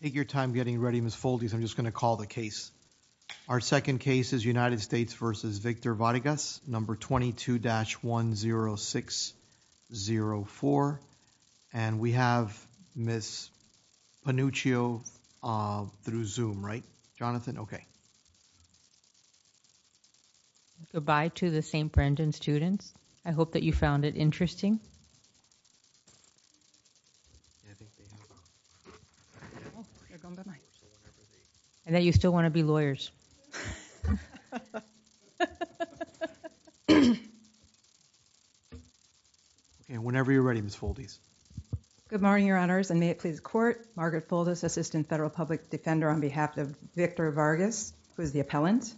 number 22-10604 and we have miss panuchio uh through zoom right jonathan okay goodbye to the st brendan students i hope that you found it interesting and that you still want to be lawyers and whenever you're ready miss foldies good morning your honors and may it please court margaret folders assistant federal public defender on behalf of victor vargas who is the appellant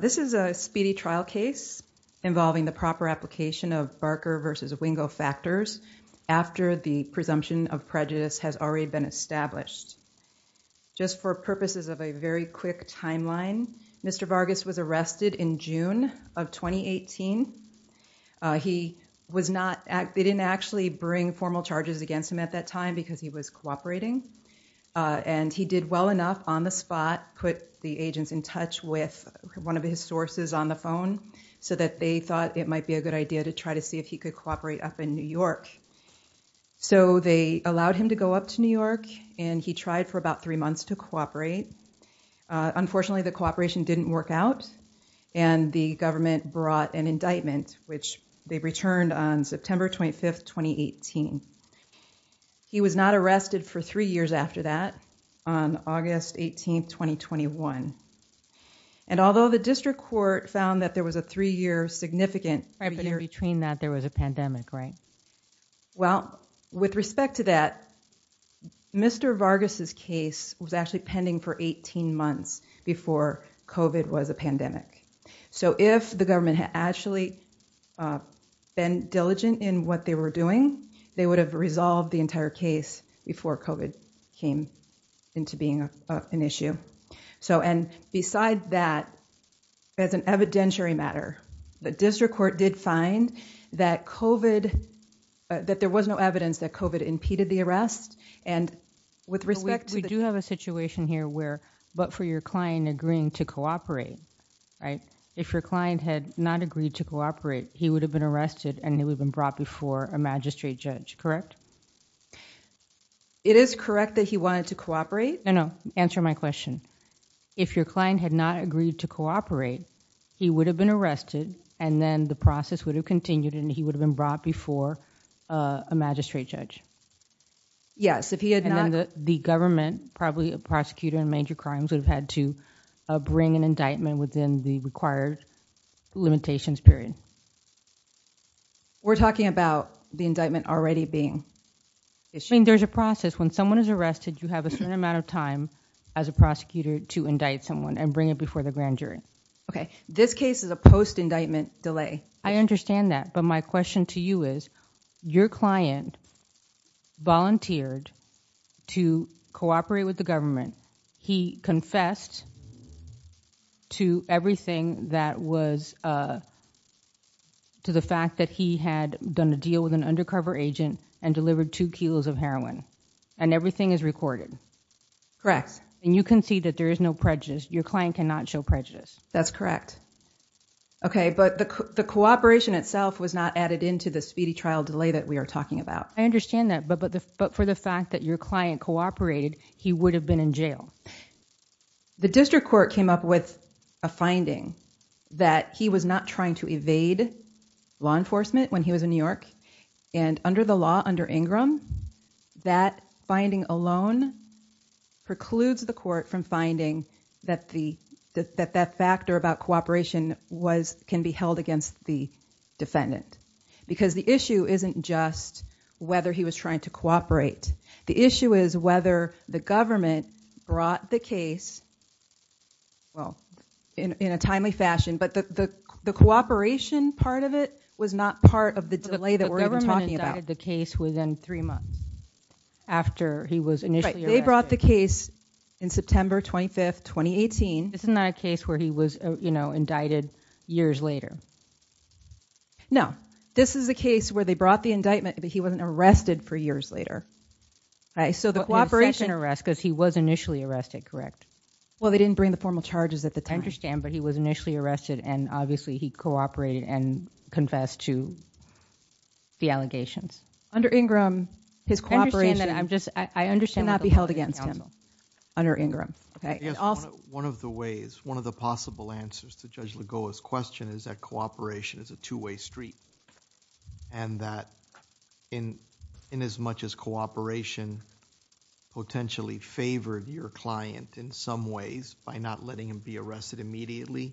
this is a speedy trial case involving the proper application of barker versus wingo factors after the presumption of prejudice has already been established just for purposes of a very quick timeline mr vargas was arrested in june of 2018 he was not they didn't actually bring formal charges against him at that time because he was in touch with one of his sources on the phone so that they thought it might be a good idea to try to see if he could cooperate up in new york so they allowed him to go up to new york and he tried for about three months to cooperate unfortunately the cooperation didn't work out and the government brought an indictment which they returned on september 25th 2018 he was not arrested for three years after that on august 18th 2021 and although the district court found that there was a three-year significant revenue between that there was a pandemic right well with respect to that mr vargas's case was actually pending for 18 months before covid was a pandemic so if the government had actually uh been diligent in what they were doing they would have resolved the entire case before covid came into being an issue so and beside that as an evidentiary matter the district court did find that covid that there was no evidence that covid impeded the arrest and with respect to we do have a situation here where but for your client agreeing to cooperate right if your client had not agreed to cooperate he would have been arrested and correct it is correct that he wanted to cooperate no no answer my question if your client had not agreed to cooperate he would have been arrested and then the process would have continued and he would have been brought before a magistrate judge yes if he had not the government probably a prosecutor in major crimes would have had to bring an indictment within the required limitations period we're talking about the indictment already being i mean there's a process when someone is arrested you have a certain amount of time as a prosecutor to indict someone and bring it before the grand jury okay this case is a post-indictment delay i understand that but my question to you is your client volunteered to cooperate with the government he confessed to everything that was uh to the fact that he had done a deal with an undercover agent and delivered two kilos of heroin and everything is recorded correct and you can see that there is no prejudice your client cannot show prejudice that's correct okay but the cooperation itself was not added into the speedy trial delay that we are talking about i understand that but but but for the fact that your client cooperated he would have been in jail the district court came up with a finding that he was not trying to evade law enforcement when he was in new york and under the law under ingram that finding alone precludes the court from finding that the that that factor about cooperation was can be held against the defendant because the issue isn't just whether he was trying to cooperate the issue is whether the government brought the case well in in a timely fashion but the the cooperation part of it was not part of the delay that we're talking about the case within three months after he was initially they brought the case in september 25th 2018 isn't that a case where he was you know indicted years later no this is the case where they brought the indictment but he wasn't arrested for years later all right so the cooperation arrest because he was initially arrested correct well they didn't bring the formal charges at the time i understand but he was initially arrested and obviously he cooperated and confessed to the allegations under ingram his cooperation and i'm just i understand not be held against him under ingram okay one of the ways one of the possible answers to judge lagoa's question is that cooperation is a two-way street and that in in as much as cooperation potentially favored your client in some ways by not letting him be arrested immediately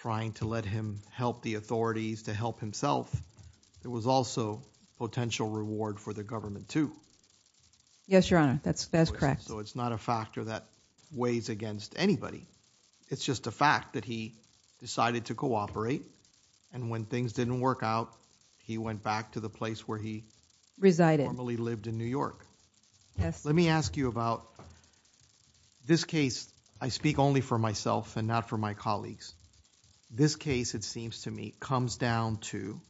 trying to let him help the authorities to help himself it was also potential reward for the government too yes your honor that's that's correct so it's not a factor that weighs against anybody it's just a fact that he decided to cooperate and when things didn't work out he went back to the place where he resided normally lived in new york yes let me ask you about this case i speak only for myself and not for my colleagues this case it seems to me comes down to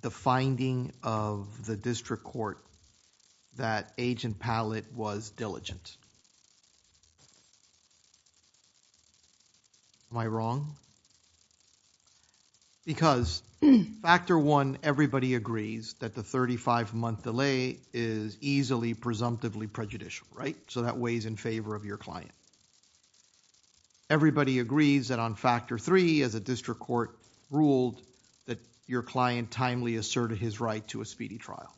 the finding of the district court that agent pallet was diligent am i wrong because factor one everybody agrees that the 35 month delay is easily presumptively prejudicial right so that weighs in favor of your client and everybody agrees that on factor three as a district court ruled that your client timely asserted his right to a speedy trial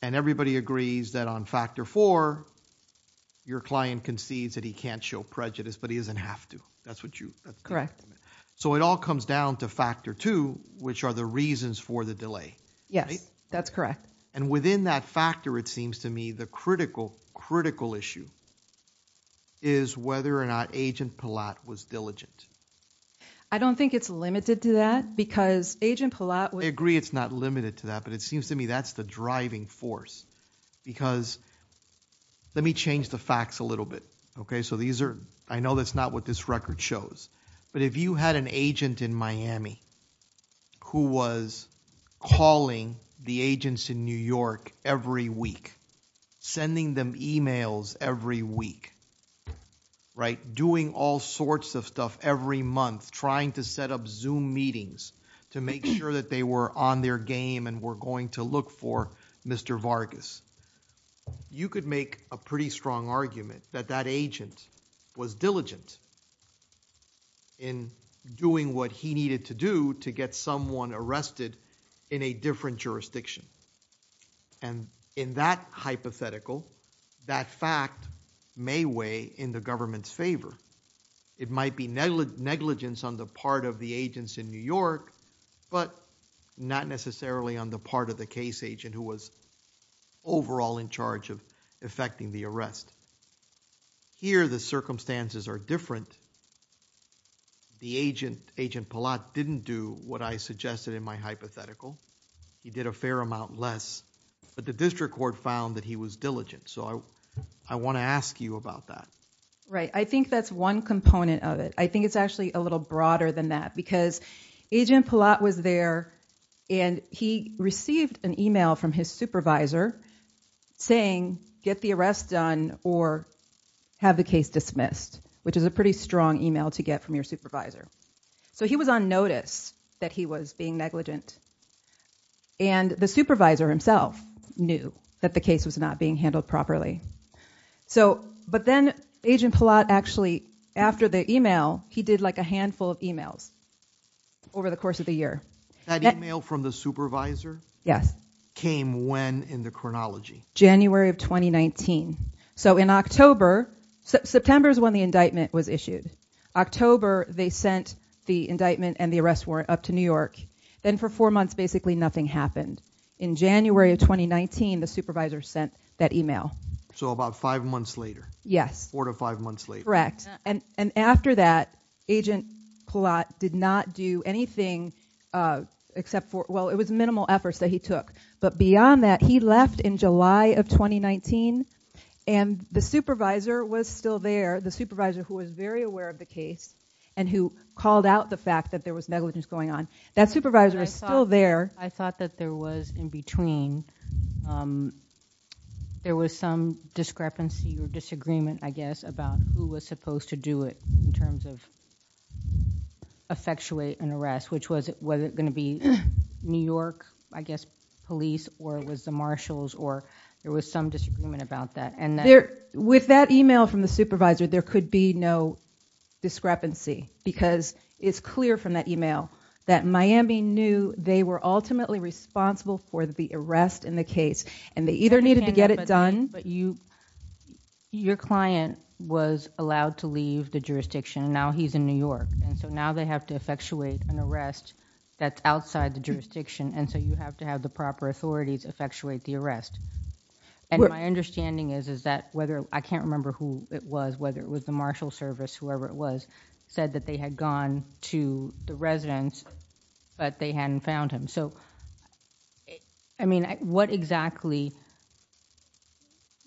and everybody agrees that on factor four your client concedes that he can't show prejudice but he doesn't have to that's what you correct so it all comes down to factor two which are the reasons for the delay yes that's correct and within that factor it seems to me the critical critical issue is whether or not agent palat was diligent i don't think it's limited to that because agent palat would agree it's not limited to that but it seems to me that's the driving force because let me change the facts a little bit okay so these are i know that's not what this record shows but if you had an agent in miami who was calling the agents in new york every week sending them emails every week right doing all sorts of stuff every month trying to set up zoom meetings to make sure that they were on their game and were going to look for mr vargas you could make a pretty strong argument that that agent was diligent in doing what he needed to do to get someone arrested in a different jurisdiction and in that hypothetical that fact may weigh in the government's favor it might be negligence on the part of the agents in new york but not necessarily on the part of the case agent who was overall in charge of effecting the arrest here the circumstances are different the agent agent palat didn't do what i suggested in my hypothetical he did a fair amount less but the district court found that he was diligent so i i want to ask you about that right i think that's one component of it i think it's actually a little broader than that because agent palat was there and he received an email from his supervisor saying get the arrest done or have the case dismissed which is a pretty strong email to get from your supervisor so he was on notice that he was being negligent and the supervisor himself knew that the case was not being handled properly so but then agent palat actually after the email he did like a over the course of the year that email from the supervisor yes came when in the chronology january of 2019 so in october september is when the indictment was issued october they sent the indictment and the arrest warrant up to new york then for four months basically nothing happened in january of 2019 the supervisor sent that email so about five months later yes four to five months correct and and after that agent palat did not do anything uh except for well it was minimal efforts that he took but beyond that he left in july of 2019 and the supervisor was still there the supervisor who was very aware of the case and who called out the fact that there was negligence going on that supervisor was still there i thought that there was in between um there was some discrepancy or disagreement i guess about who was supposed to do it in terms of effectuate an arrest which was was it going to be new york i guess police or was the marshals or there was some disagreement about that and there with that email from the supervisor there could be no discrepancy because it's clear from that email that miami knew they were ultimately responsible for the arrest in the case and they either needed to get it done but you your client was allowed to leave the jurisdiction now he's in new york and so now they have to effectuate an arrest that's outside the jurisdiction and so you have to have the proper authorities effectuate the arrest and my understanding is is that whether i can't remember who it was whether it was the marshal service whoever it was said that they had gone to the so i mean what exactly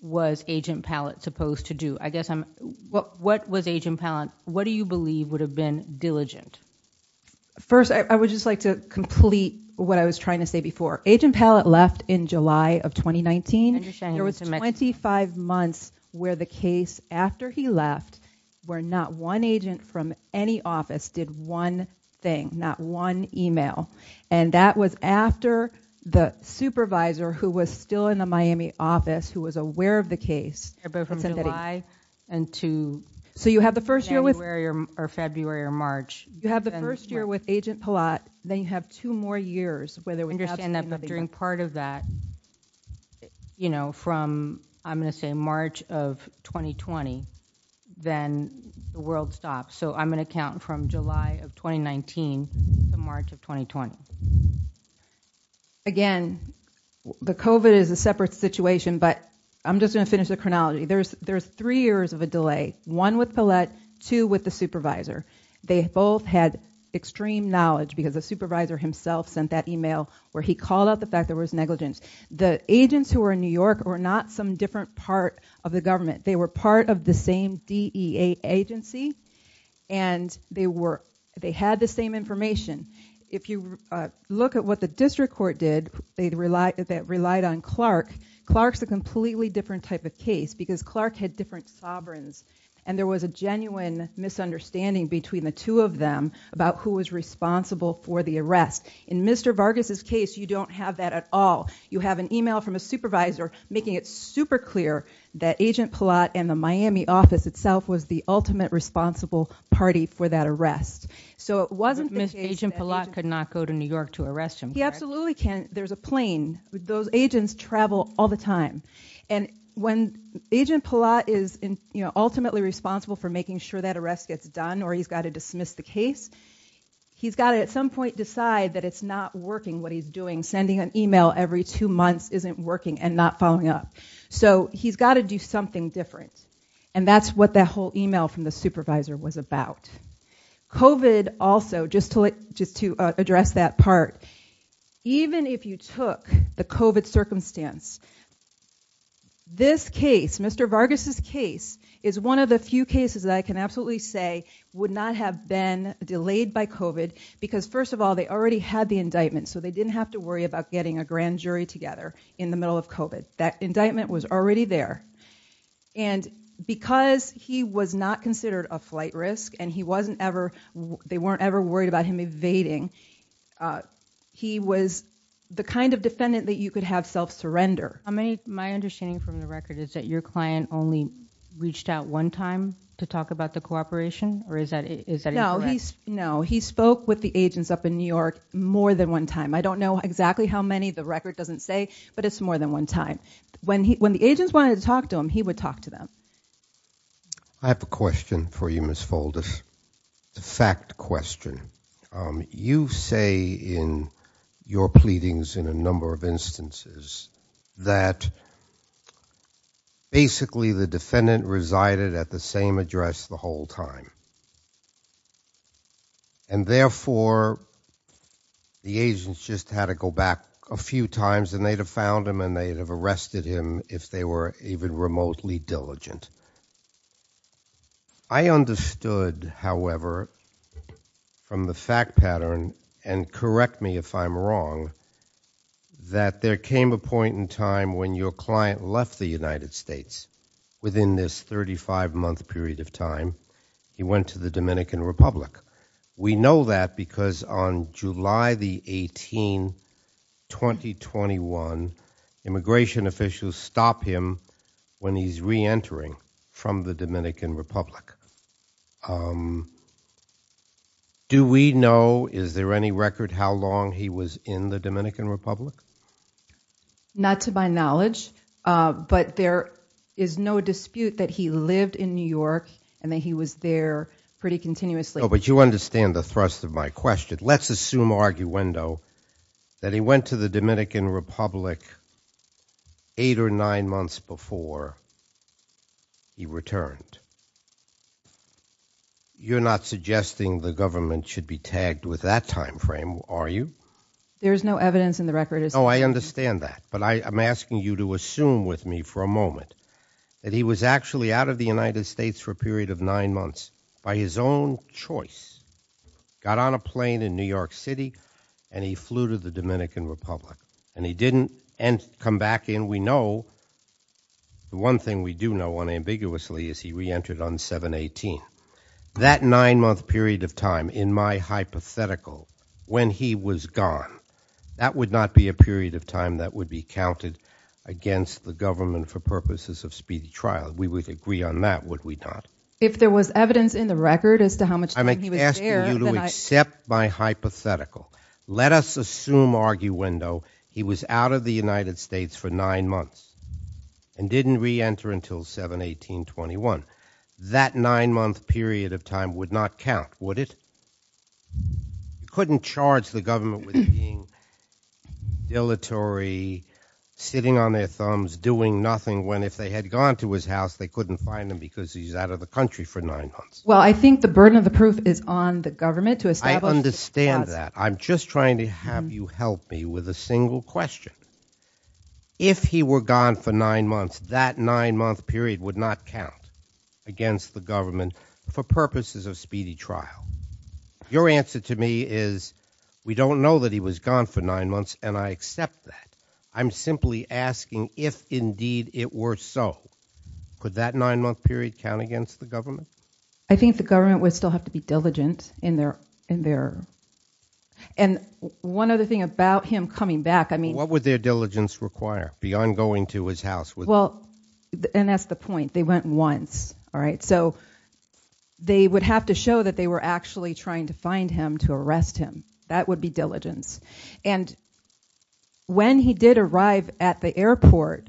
was agent pallet supposed to do i guess i'm what what was agent pallet what do you believe would have been diligent first i would just like to complete what i was trying to say before agent pallet left in july of 2019 there was 25 months where the case after he left where not one agent from any office did one thing not one email and that was after the supervisor who was still in the miami office who was aware of the case but from july and two so you have the first year with where you're or february or march you have the first year with agent palat then you have two more years whether we understand that but during part of that you know from i'm going to say march of 2020 then the world stops so i'm going to count from july of 2019 to march of 2020 again the covet is a separate situation but i'm just going to finish the chronology there's there's three years of a delay one with palette two with the supervisor they both had extreme knowledge because the supervisor himself sent that email where he not some different part of the government they were part of the same dea agency and they were they had the same information if you look at what the district court did they'd rely that relied on clark clark's a completely different type of case because clark had different sovereigns and there was a genuine misunderstanding between the two of them about who was responsible for it's super clear that agent palat and the miami office itself was the ultimate responsible party for that arrest so it wasn't agent palat could not go to new york to arrest him he absolutely can't there's a plane those agents travel all the time and when agent palat is in you know ultimately responsible for making sure that arrest gets done or he's got to dismiss the case he's got to at some point decide that it's not working what he's doing sending an email every two months isn't working and not following up so he's got to do something different and that's what that whole email from the supervisor was about covid also just to like just to address that part even if you took the covid circumstance this case mr vargas's case is one of the few cases that i can absolutely say would not have been delayed by covid because first of all they already had the indictment so they didn't have to worry about getting a grand jury together in the middle of covid that indictment was already there and because he was not considered a flight risk and he wasn't ever they weren't ever worried about him evading uh he was the kind of defendant that you could have self-surrender how many my understanding from the record is that your client only reached out one time to talk about the cooperation or is that is that no he's no he spoke with the agents up in new york more than one time i don't know exactly how many the record doesn't say but it's more than one time when he when the agents wanted to talk to him he would talk to them i have a question for you miss folders it's a fact question um you say in your pleadings in a number of instances that basically the defendant resided at the same address the whole time and therefore the agents just had to go back a few times and they'd have found him and they'd have arrested him if they were even remotely diligent i understood however from the fact pattern and correct me if i'm wrong that there came a point in time when your client left the united states within this 35 month period of time he went to the dominican republic we know that because on july the 18 2021 immigration officials stop him when he's re-entering from the dominican republic do we know is there any record how long he was in the dominican republic not to my knowledge uh but there is no dispute that he lived in new york and that he was there pretty continuously but you understand the thrust of my question let's assume arguendo that he went to the dominican republic eight or nine months before he returned you're not suggesting the government should be tagged with that time frame are you there's no evidence in the record no i understand that but i am asking you to assume with me for a moment that he was actually out of the united states for a period of nine months by his own choice got on a plane in new york city and he flew to the dominican republic and he didn't and come back in we know the one thing we do know unambiguously is he re-entered on 7 18 that nine month period of time in my hypothetical when he was gone that would not be a period of time that would be counted against the government for purposes of speedy trial we would agree on that would we not if there was evidence in the record as to how much i'm asking you to accept my hypothetical let us assume arguendo he was out of the united states for nine months and didn't re-enter until 7 18 21 that nine month period of time would not count would it he couldn't charge the government with being dilatory sitting on their thumbs doing nothing when if they had gone to his house they couldn't find him because he's out of the country for nine months well i think the burden of the proof is on the government to establish i understand that i'm just trying to have you help me with a single question if he were gone for nine months that nine month period would not count against the government for purposes of speedy trial your answer to me is we don't know that he was gone for nine months and i accept that i'm simply asking if indeed it were so could that nine month period count against the government i think the government would still have to be diligent in their in their and one other thing about him coming back i mean what would their diligence require beyond going to his house well and that's the point they went once all right so they would have to show that they were actually trying to find him to arrest him that would be diligence and when he did arrive at the airport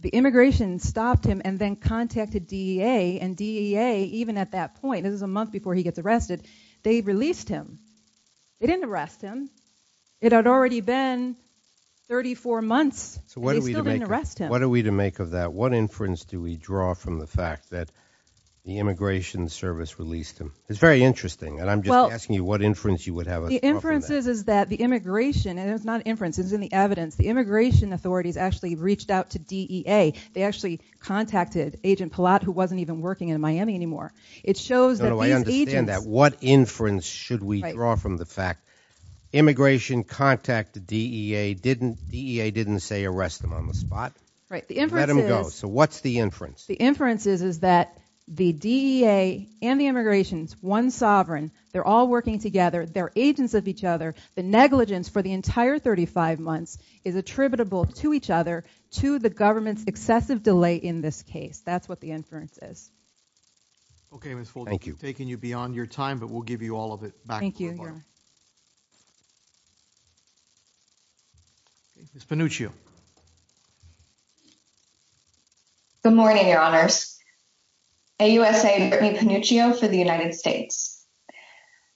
the immigration stopped him and then contacted dea and dea even at that point this is a month before he gets arrested they released him they didn't arrest him it had already been 34 months so what are we doing to arrest him what are we to make of that what inference do we draw from the fact that the immigration service released him it's very interesting and i'm just asking you what inference you would have the inferences is that the immigration and it's not inference it's in the evidence the immigration authorities actually reached out to dea they actually contacted agent palat who wasn't even working in miami anymore it shows that i understand that what inference should we draw from the fact immigration contacted dea didn't dea didn't say arrest them on the spot right let him go so what's the inference the inferences is that the dea and the immigrations one sovereign they're all working together they're agents of each other the negligence for the entire 35 months is attributable to each other to the government's excessive delay in this case that's what the inference is okay thank you taking you beyond your time but we'll give you all of it thank you miss panuccio good morning your honors ausa britney panuccio for the united states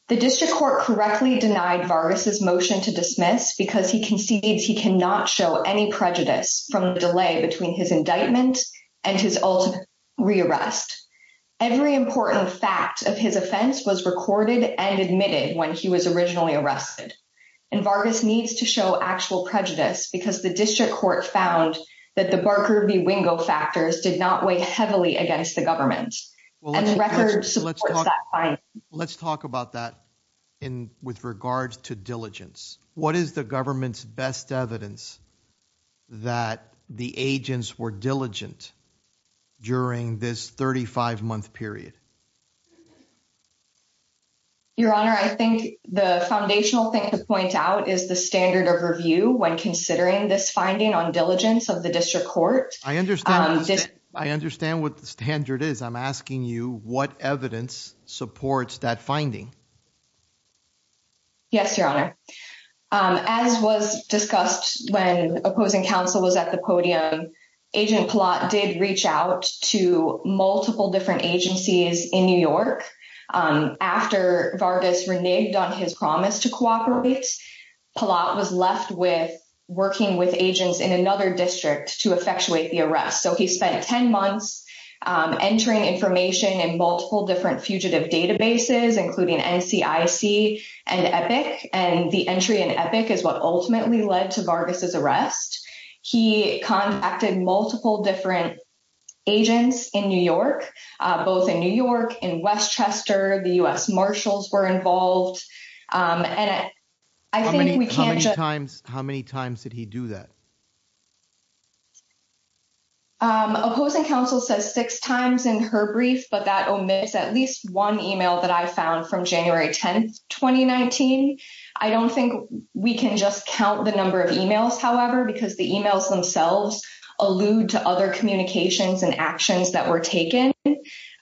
the district court correctly denied vargas's motion to dismiss because he concedes he cannot show any prejudice from the delay between his indictment and his ultimate rearrest every important fact of his offense was recorded and admitted when he was originally arrested and vargas needs to show actual prejudice because the district court found that the barker v wingo factors did not weigh heavily against the government and the record supports that fine let's talk about that in with regards to diligence what is the government's best evidence that the agents were diligent during this 35 month period your honor i think the foundational thing to point out is the standard of review when i understand what the standard is i'm asking you what evidence supports that finding yes your honor as was discussed when opposing counsel was at the podium agent plot did reach out to multiple different agencies in new york after vargas reneged on his promise to cooperate palat was left with working with agents in another district to effectuate the arrest so he spent 10 months entering information in multiple different fugitive databases including ncic and epic and the entry in epic is what ultimately led to vargas's arrest he contacted multiple different agents in new york both in new york in westchester the u.s marshals were involved um and i think we can't times how many times did he do that um opposing counsel says six times in her brief but that omits at least one email that i found from january 10th 2019 i don't think we can just count the number of emails however because the emails themselves allude to other communications and actions that were taken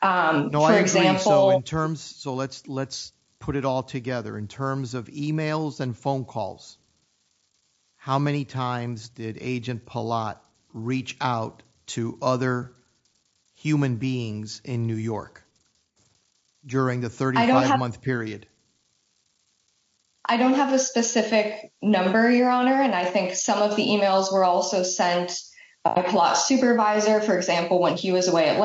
um for example in terms of emails and phone calls how many times did agent palat reach out to other human beings in new york during the 35 month period i don't have a specific number your honor and i think some of the emails were also sent a plot supervisor for example when he was away at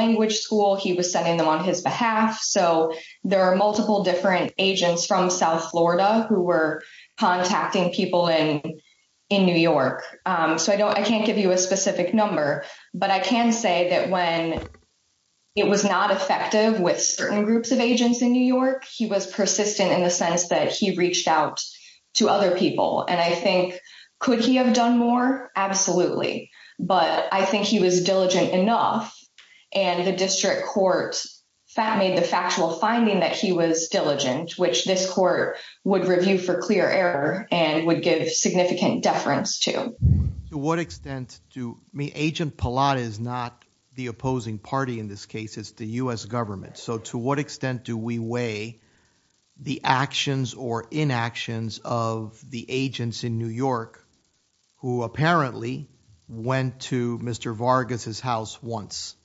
so there are multiple different agents from south florida who were contacting people in in new york um so i don't i can't give you a specific number but i can say that when it was not effective with certain groups of agents in new york he was persistent in the sense that he reached out to other people and i think could he have done more absolutely but i think he was diligent enough and the district court fat made the factual finding that he was diligent which this court would review for clear error and would give significant deference to to what extent do me agent palat is not the opposing party in this case it's the u.s government so to what extent do we weigh the actions or inactions of the agents in new york who apparently went to mr vargas's house once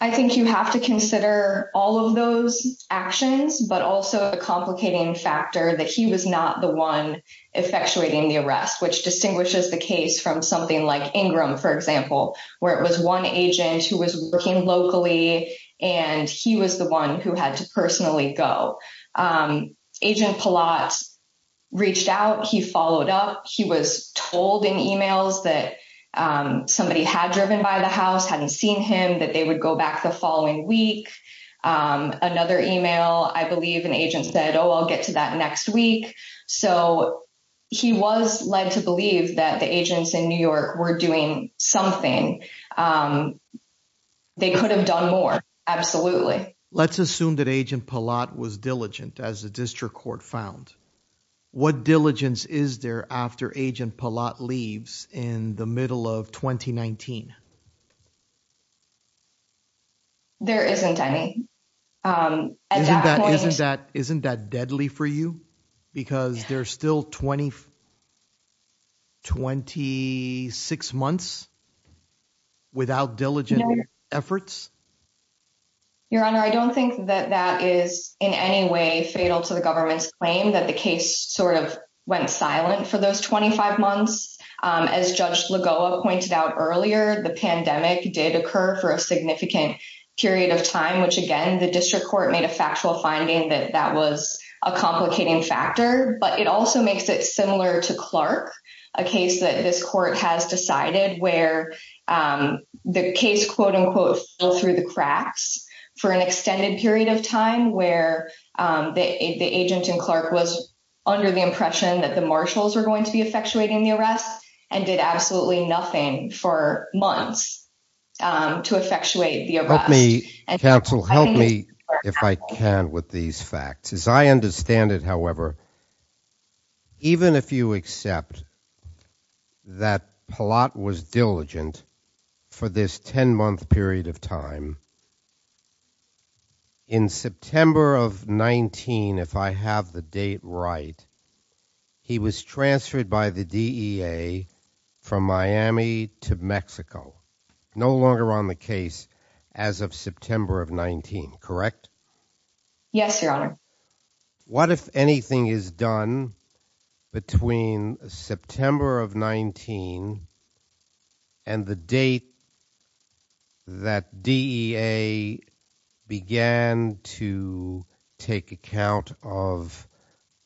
i think you have to consider all of those actions but also a complicating factor that he was not the one effectuating the arrest which distinguishes the case from something like ingram for example where it was one agent who was working locally and he was the one who had to personally go agent palat reached out he followed up he was told in emails that somebody had driven by the house hadn't seen him that they would go back the following week another email i believe an agent said oh i'll get to that next week so he was led to believe that the agents in new york were something they could have done more absolutely let's assume that agent palat was diligent as the district court found what diligence is there after agent palat leaves in the middle of 2019 there isn't any um isn't that isn't that deadly for you because there's still 20 26 months without diligent efforts your honor i don't think that that is in any way fatal to the government's claim that the case sort of went silent for those 25 months um as judge lagoa pointed out earlier the pandemic did occur for a significant period of time which again the district court made a factual finding that that was a complicating factor but it also makes it similar to clark a case that this court has decided where um the case quote-unquote fell through the cracks for an extended period of time where um the the agent and clark was under the impression that the marshals were going to be effectuating the arrest and did absolutely nothing for months um to effectuate the arrest me counsel help me if i can with these facts as i understand it however even if you accept that palat was diligent for this 10 month period of time in september of 19 if i have the date right he was transferred by the dea from miami to mexico no longer on the case as of september of 19 correct yes your honor what if anything is done between september of 19 and the date that dea began to take account of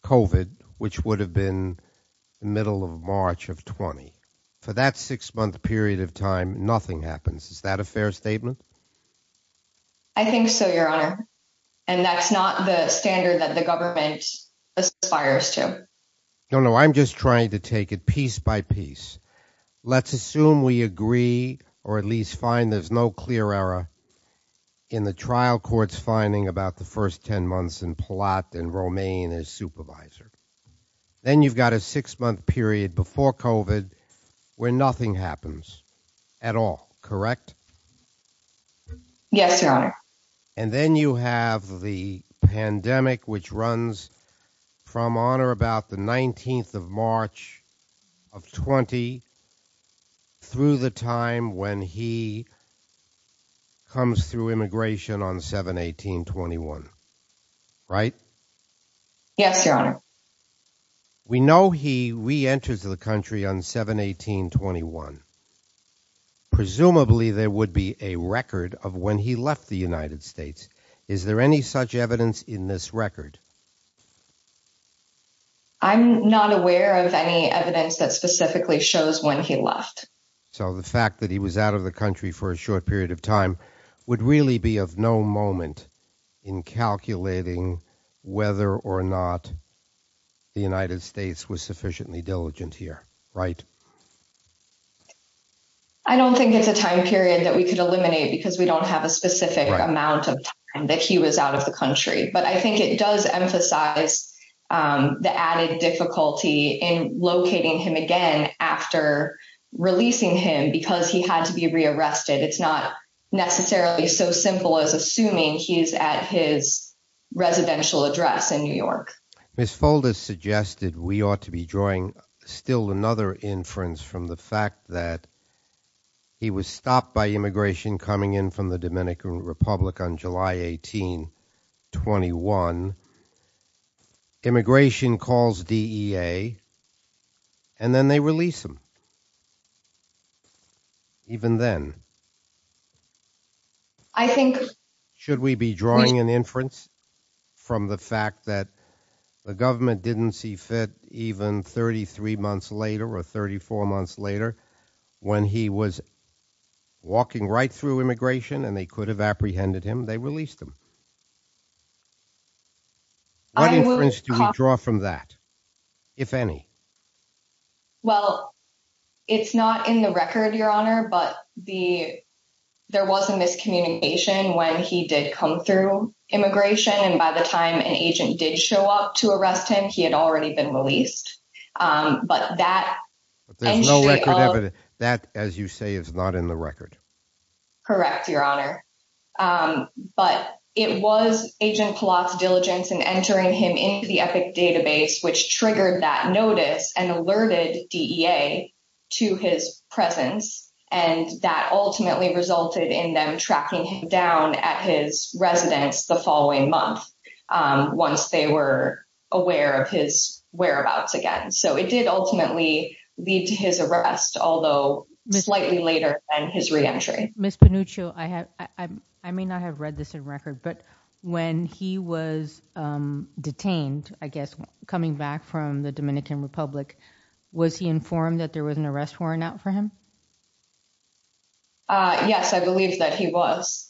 covid which would have been the middle of march of 20 for that six month period of time nothing happens is that a fair statement i think so your honor and that's not the standard that the government aspires to no no i'm just trying to take it piece by piece let's assume we agree or at least find there's no clear error in the trial court's finding about the first 10 months and plot and romaine as supervisor then you've got a six month period before covid where nothing happens at all correct yes your honor and then you have the pandemic which runs from honor about the 19th of march of 20 through the time when he comes through immigration on 7 18 21 right yes your honor we know he re-enters the country on 7 18 21 presumably there would be a record of when he left the united states is there any such evidence in this record i'm not aware of any evidence that specifically shows when he left so the fact that he was out of the country for a short period of time would really be of no moment in calculating whether or not the united states was sufficiently diligent here right i don't think it's a time period that we could eliminate because we don't have a specific amount of time that he was out of the country but i think it does emphasize um the added difficulty in locating him again after releasing him because he had to be rearrested it's not necessarily so simple as assuming he's at his residential address in new york miss folders suggested we ought to be drawing still another inference from the fact that he was stopped by immigration coming in from the dominican republic on july 18 21 immigration calls dea and then they release him even then i think should we be drawing an inference from the fact that the government didn't see fit even 33 months later or 34 months later when he was walking right through immigration and they could have apprehended him they released him i would draw from that if any well it's not in the record your honor but the there was a miscommunication when he did come through immigration and by the time an agent did show up to arrest him he had already been released um but that there's no record evidence that as you say is not in the record correct your honor um but it was agent palazzo diligence and entering him into the epic database which triggered that notice and alerted dea to his presence and that ultimately resulted in them tracking him down at his residence the following month um once they were aware of his whereabouts again so it did ultimately lead to his arrest although slightly later than his re-entry miss panuccio i have i may not have read this in record but when he was um detained i guess coming back from the dominican republic was he informed that there was an arrest warrant out for him uh yes i believe that he was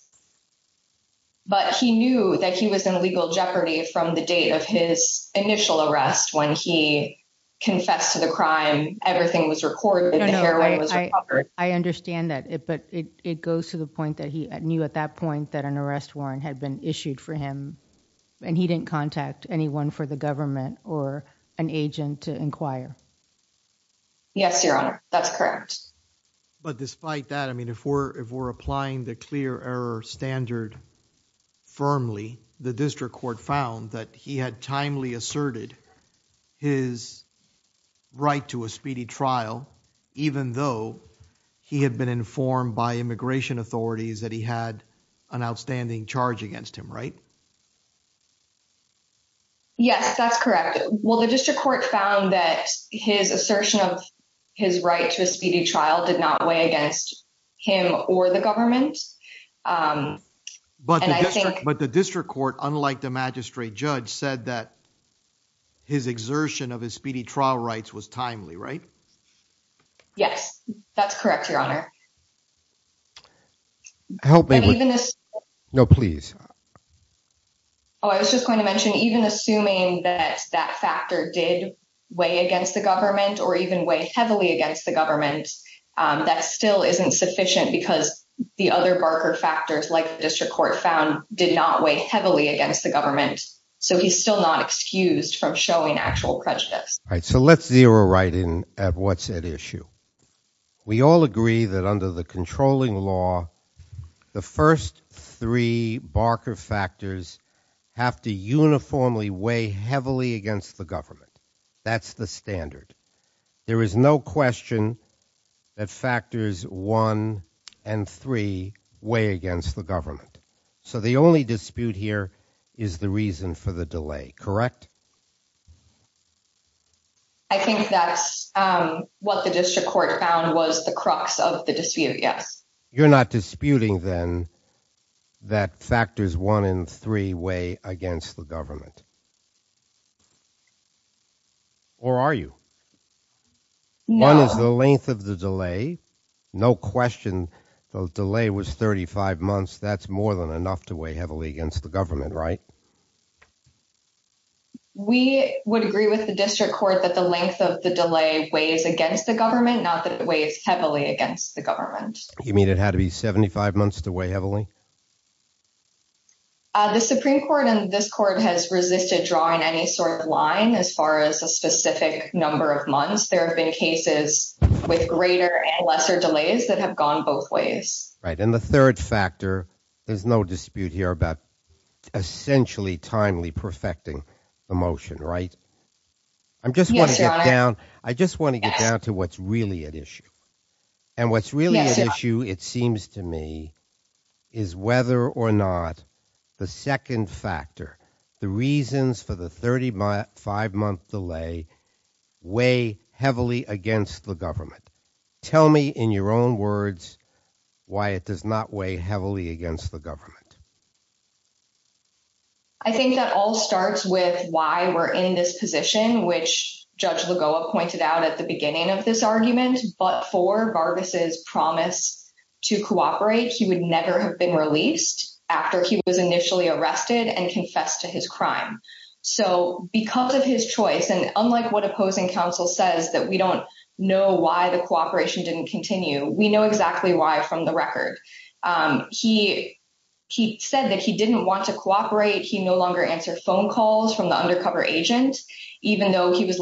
but he knew that he was in legal jeopardy from the date of his initial arrest when he confessed to the crime everything was recorded i understand that it but it it goes to the point that he knew at that point that an arrest warrant had been issued for him and he didn't contact anyone for the government or an agent to inquire yes your honor that's correct but despite that i mean if we're if we're applying the clear error standard firmly the district court found that he had timely asserted his right to a speedy trial even though he had been informed by immigration authorities that he had an outstanding charge against him right yes that's correct well the district court found that his assertion of his right to a speedy trial did not weigh against him or the government um but but the district court unlike the magistrate judge said that his exertion of his speedy trial rights was timely right yes that's correct your honor help me with this no please oh i was just going to mention even assuming that that factor did weigh against the government or even weigh heavily against the government um that still isn't sufficient because the other barker factors like the district court found did not weigh heavily against the government so he's still not excused from showing actual prejudice all right so let's zero right in at what's at issue we all agree that under the controlling law the first three barker factors have to uniformly weigh heavily against the government that's the one and three weigh against the government so the only dispute here is the reason for the delay correct i think that's um what the district court found was the crux of the dispute yes you're not disputing then that factors one and three weigh against the government or are you one is the length of the delay no question the delay was 35 months that's more than enough to weigh heavily against the government right we would agree with the district court that the length of the delay weighs against the government not that it weighs heavily against the government you mean it had to be 75 months to weigh heavily uh the supreme court and this court has resisted drawing any sort of line as far as a specific number of months there have been cases with greater and lesser delays that have gone both ways right and the third factor there's no dispute here about essentially timely perfecting the motion right i'm just going to get down i just want to get down to what's really at issue and what's really an issue it seems to me is whether or not the second factor the reasons for the 35 month delay weigh heavily against the government tell me in your own words why it does not weigh heavily against the government i think that all starts with why we're in this position which judge lagoa pointed out at the beginning of this argument but for barbus's promise to cooperate he would never have been released after he was initially arrested and confessed to his crime so because of his choice and unlike what opposing counsel says that we don't know why the cooperation didn't continue we know exactly why from the record um he he said that he didn't want to cooperate he no longer answered phone calls from the undercover agent even though he was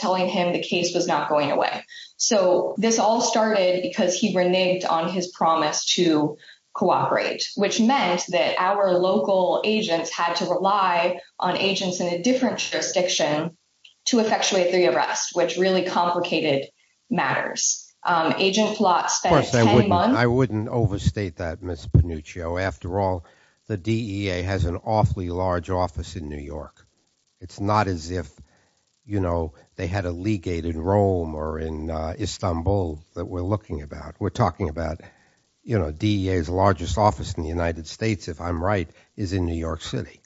telling him the case was not going away so this all started because he reneged on his promise to cooperate which meant that our local agents had to rely on agents in a different jurisdiction to effectuate the arrest which really complicated matters um agent plot spent i wouldn't overstate that miss panuccio after all the dea has an awfully large office in new york it's not as if you know they had a legate in rome or in istanbul that we're looking about we're talking about you know dea's largest office in the united states if i'm right is in new york city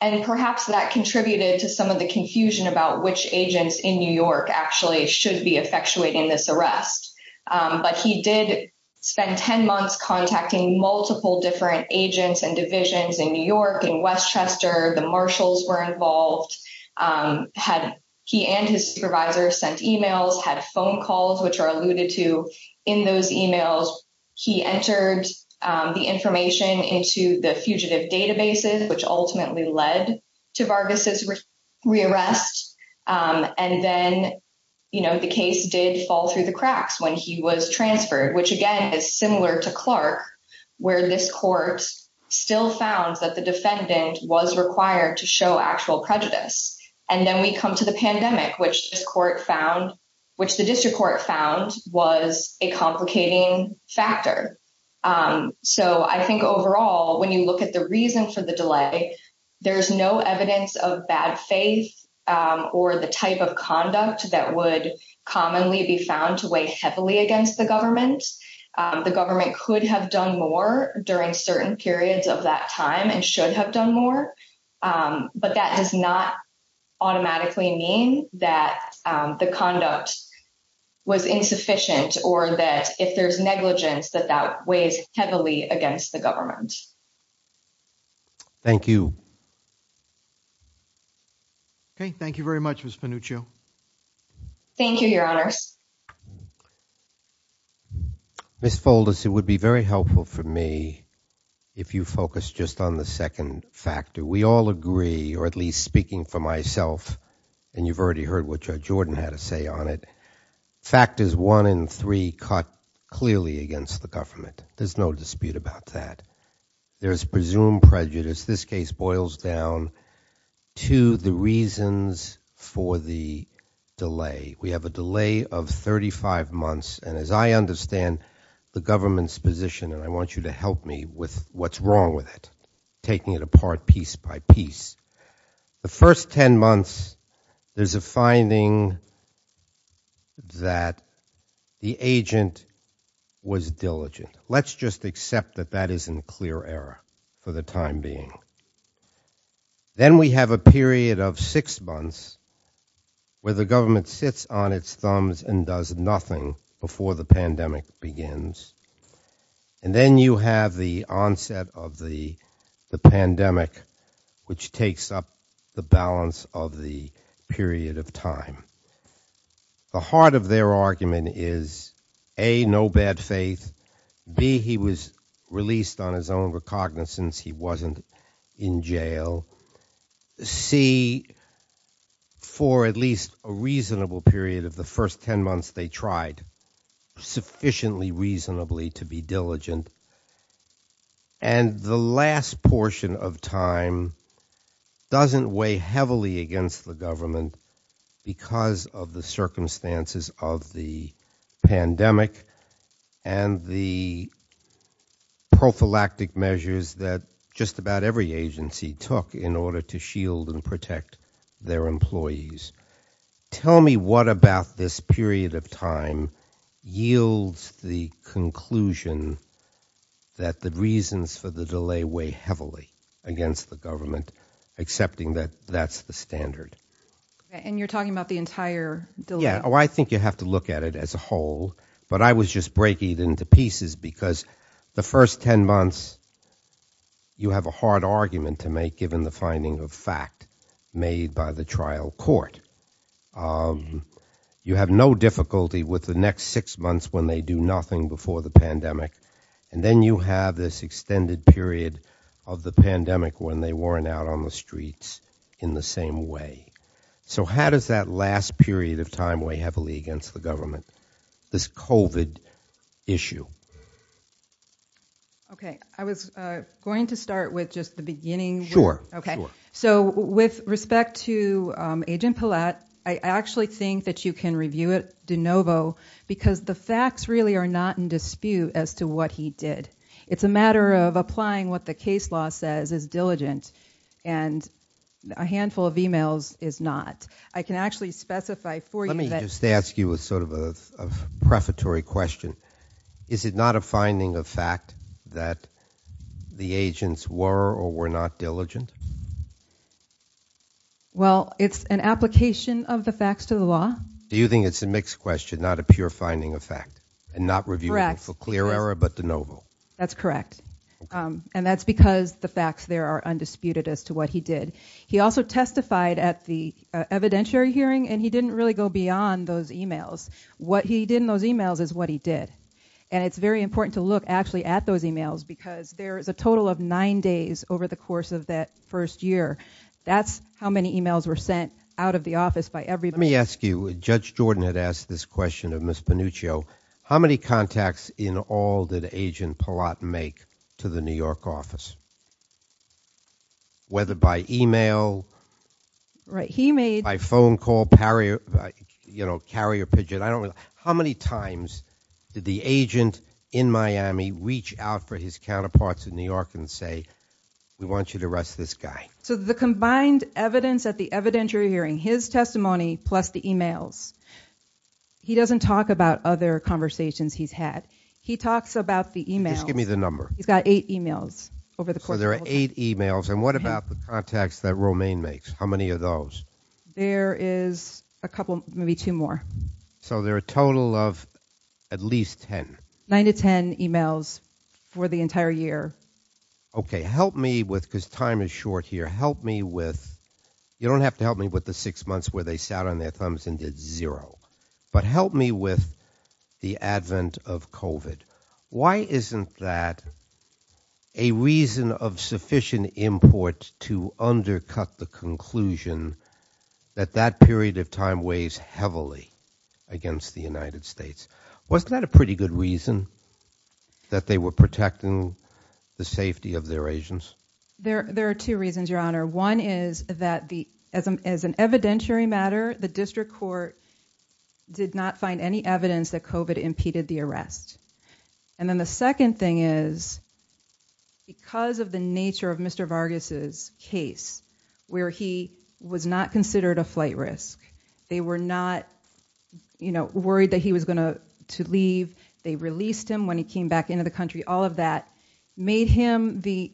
and perhaps that contributed to some of the confusion about which agents in new york actually should be effectuating this arrest but he did spend 10 months contacting multiple different agents and divisions in new york in the marshals were involved um had he and his supervisor sent emails had phone calls which are alluded to in those emails he entered um the information into the fugitive databases which ultimately led to vargas's rearrest um and then you know the case did fall through the cracks when he was transferred which again is similar to clark where this court still found that the was required to show actual prejudice and then we come to the pandemic which this court found which the district court found was a complicating factor um so i think overall when you look at the reason for the delay there's no evidence of bad faith or the type of conduct that would commonly be found to weigh heavily against the government the government could have done more during certain periods of that time and should have done more um but that does not automatically mean that the conduct was insufficient or that if there's negligence that that weighs heavily against the government thank you okay thank you very much miss panuccio thank you your honors um miss folders it would be very helpful for me if you focus just on the second factor we all agree or at least speaking for myself and you've already heard what judge jordan had to say on it factors one and three caught clearly against the government there's no dispute about that there's presumed prejudice this case boils down to the reasons for the delay we have a delay of 35 months and as i understand the government's position and i want you to help me with what's wrong with it taking it apart piece by piece the first 10 months there's a finding that the agent was diligent let's just accept that that is in clear error for the time being then we have a period of six months where the government sits on its thumbs and does nothing before the pandemic begins and then you have the onset of the the pandemic which takes up the balance of the period of time the heart of their argument is a no bad faith b he was released on his own recognizance he wasn't in jail c for at least a reasonable period of the first 10 months they tried sufficiently reasonably to be diligent and the last portion of time doesn't weigh heavily against the government because of the circumstances of the pandemic and the prophylactic measures that just about every agency took in order to shield and protect their employees tell me what about this period of time yields the conclusion that the reasons for the delay weigh heavily against the government accepting that that's the standard and you're talking about the entire deal yeah oh i think you have to look at it as a whole but i was just breaking it into pieces because the first 10 months you have a hard argument to make given the finding of fact made by the trial court um you have no difficulty with the next six months when they do nothing before the pandemic and then you have this extended period of the pandemic when they weren't out on the streets in the same way so how does that last period of time weigh heavily against the government this covid issue okay i was uh going to start with just the beginning sure okay so with respect to um agent palat i actually think that you can review de novo because the facts really are not in dispute as to what he did it's a matter of applying what the case law says is diligent and a handful of emails is not i can actually specify for you let me just ask you a sort of a prefatory question is it not a finding of fact that the agents were or well it's an application of the facts to the law do you think it's a mixed question not a pure finding of fact and not reviewing for clear error but de novo that's correct um and that's because the facts there are undisputed as to what he did he also testified at the evidentiary hearing and he didn't really go beyond those emails what he did in those emails is what he did and it's very important to look actually at those emails because there is a total of nine days over the course of that first year that's how many emails were sent out of the office by everybody let me ask you judge jordan had asked this question of miss panuccio how many contacts in all that agent palat make to the new york office whether by email right he made by phone call parry you know carrier pigeon i don't know how many times did the agent in miami reach out for his counterparts in new say we want you to arrest this guy so the combined evidence at the evidentiary hearing his testimony plus the emails he doesn't talk about other conversations he's had he talks about the emails give me the number he's got eight emails over the course there are eight emails and what about the contacts that romaine makes how many of those there is a couple maybe two more so there a total of at least 10 9 to 10 emails for the entire year okay help me with because time is short here help me with you don't have to help me with the six months where they sat on their thumbs and did zero but help me with the advent of covid why isn't that a reason of sufficient import to the united states wasn't that a pretty good reason that they were protecting the safety of their agents there there are two reasons your honor one is that the as an evidentiary matter the district court did not find any evidence that covid impeded the arrest and then the second thing is because of the nature of mr vargas's case where he was not considered a flight risk they were not you know worried that he was going to leave they released him when he came back into the country all of that made him the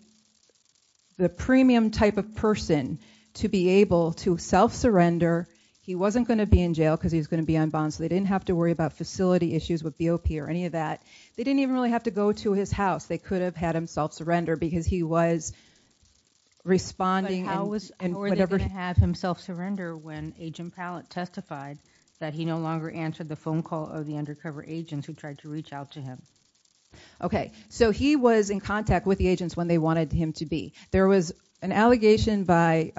the premium type of person to be able to self-surrender he wasn't going to be in jail because he was going to be on bond so they didn't have to worry about facility issues with bop or any of that they didn't even really have to go to his house they could have had him self-surrender because he was responding and how was and whatever they're going to have himself surrender when agent palette testified that he no longer answered the phone call of the undercover agents who tried to reach out to him okay so he was in contact with the agents when they wanted him to be there was an allegation by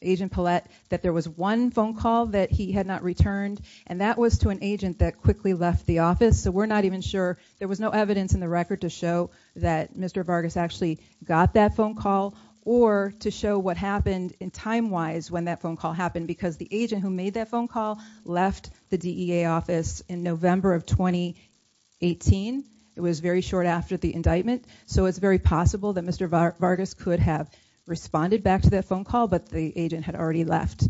agent palette that there was one phone call that he had not returned and that was to an agent that quickly left the office so we're not even sure there was no evidence in the record to show that mr vargas actually got that phone call or to show what happened in time wise when that phone call happened because the agent who made that phone call left the dea office in november of 2018 it was very short after the indictment so it's very possible that mr vargas could have responded back to that phone call but the agent had already left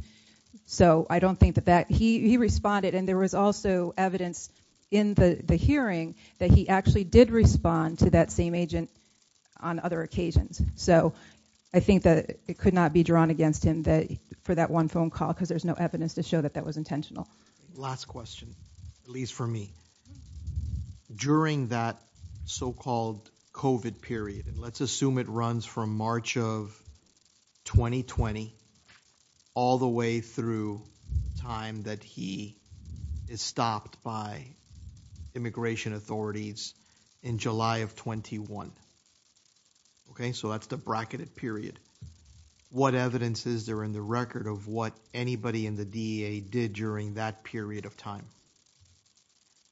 so i don't think that that he he responded and there was also evidence in the the hearing that he actually did respond to that same agent on other occasions so i think that it could not be drawn against him that for that one phone call because there's no evidence to show that that was intentional last question at least for me during that so-called covet period and let's assume it runs from march of 2020 all the way through time that he is stopped by immigration authorities in july of 21 okay so that's the bracketed period what evidence is there in the record of what anybody in the dea did during that period of time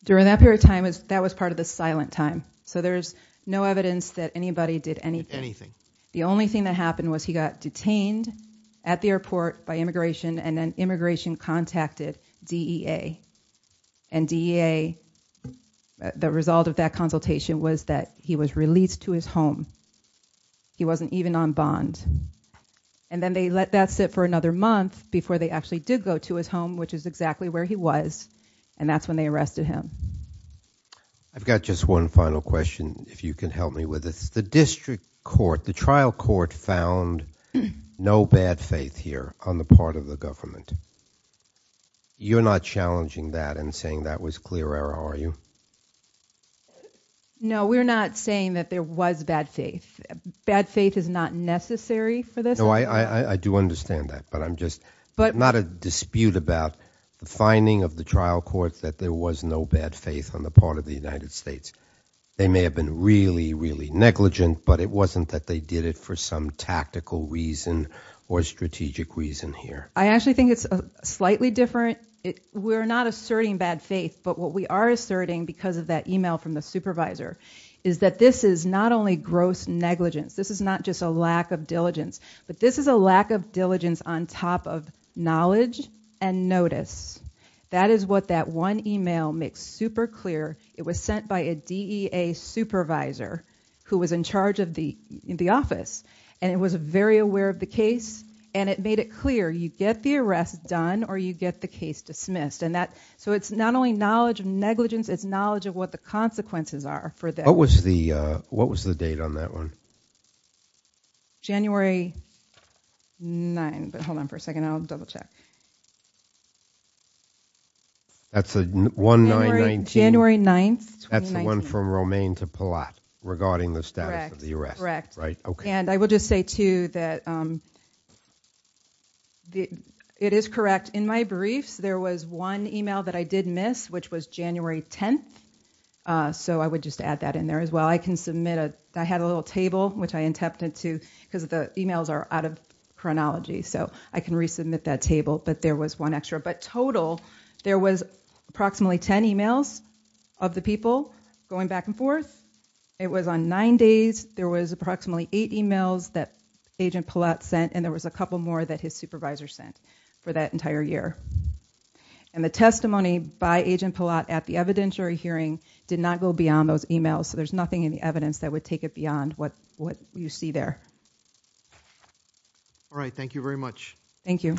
during that period of time is that was part of the silent time so there's no evidence that anybody did anything the only thing that happened was he got detained at the airport by immigration and then immigration contacted dea and dea the result of that consultation was that he was released to his home he wasn't even on bond and then they let that sit for another month before they actually did go to his home which is exactly where he was and that's when they arrested him i've got just one final question if you can help me with this the district court the trial court found no bad faith here on the part of the government you're not challenging that and saying that was clear error are you no we're not saying that there was bad faith bad faith is not necessary for this no i i do understand that but i'm just but not a dispute about the finding of the trial court that there was no bad faith on the part of the united states they may have been really really negligent but it i actually think it's a slightly different it we're not asserting bad faith but what we are asserting because of that email from the supervisor is that this is not only gross negligence this is not just a lack of diligence but this is a lack of diligence on top of knowledge and notice that is what that one email makes super clear it was sent by a dea supervisor who was in charge of the in the office and it was very aware of the case and it made it clear you get the arrest done or you get the case dismissed and that so it's not only knowledge of negligence it's knowledge of what the consequences are for that what was the uh what was the date on that one january 9 but hold on for a second i'll double check okay that's a 1 9 19 january 9th that's the one from romaine to palat regarding the status of the arrest right okay and i will just say too that um the it is correct in my briefs there was one email that i did miss which was january 10th uh so i would just add that in there as well i can submit a i had a little table which i but there was one extra but total there was approximately 10 emails of the people going back and forth it was on nine days there was approximately eight emails that agent palat sent and there was a couple more that his supervisor sent for that entire year and the testimony by agent palat at the evidentiary hearing did not go beyond those emails so there's nothing in the evidence that would take it beyond what what you see there all right thank you very much thank you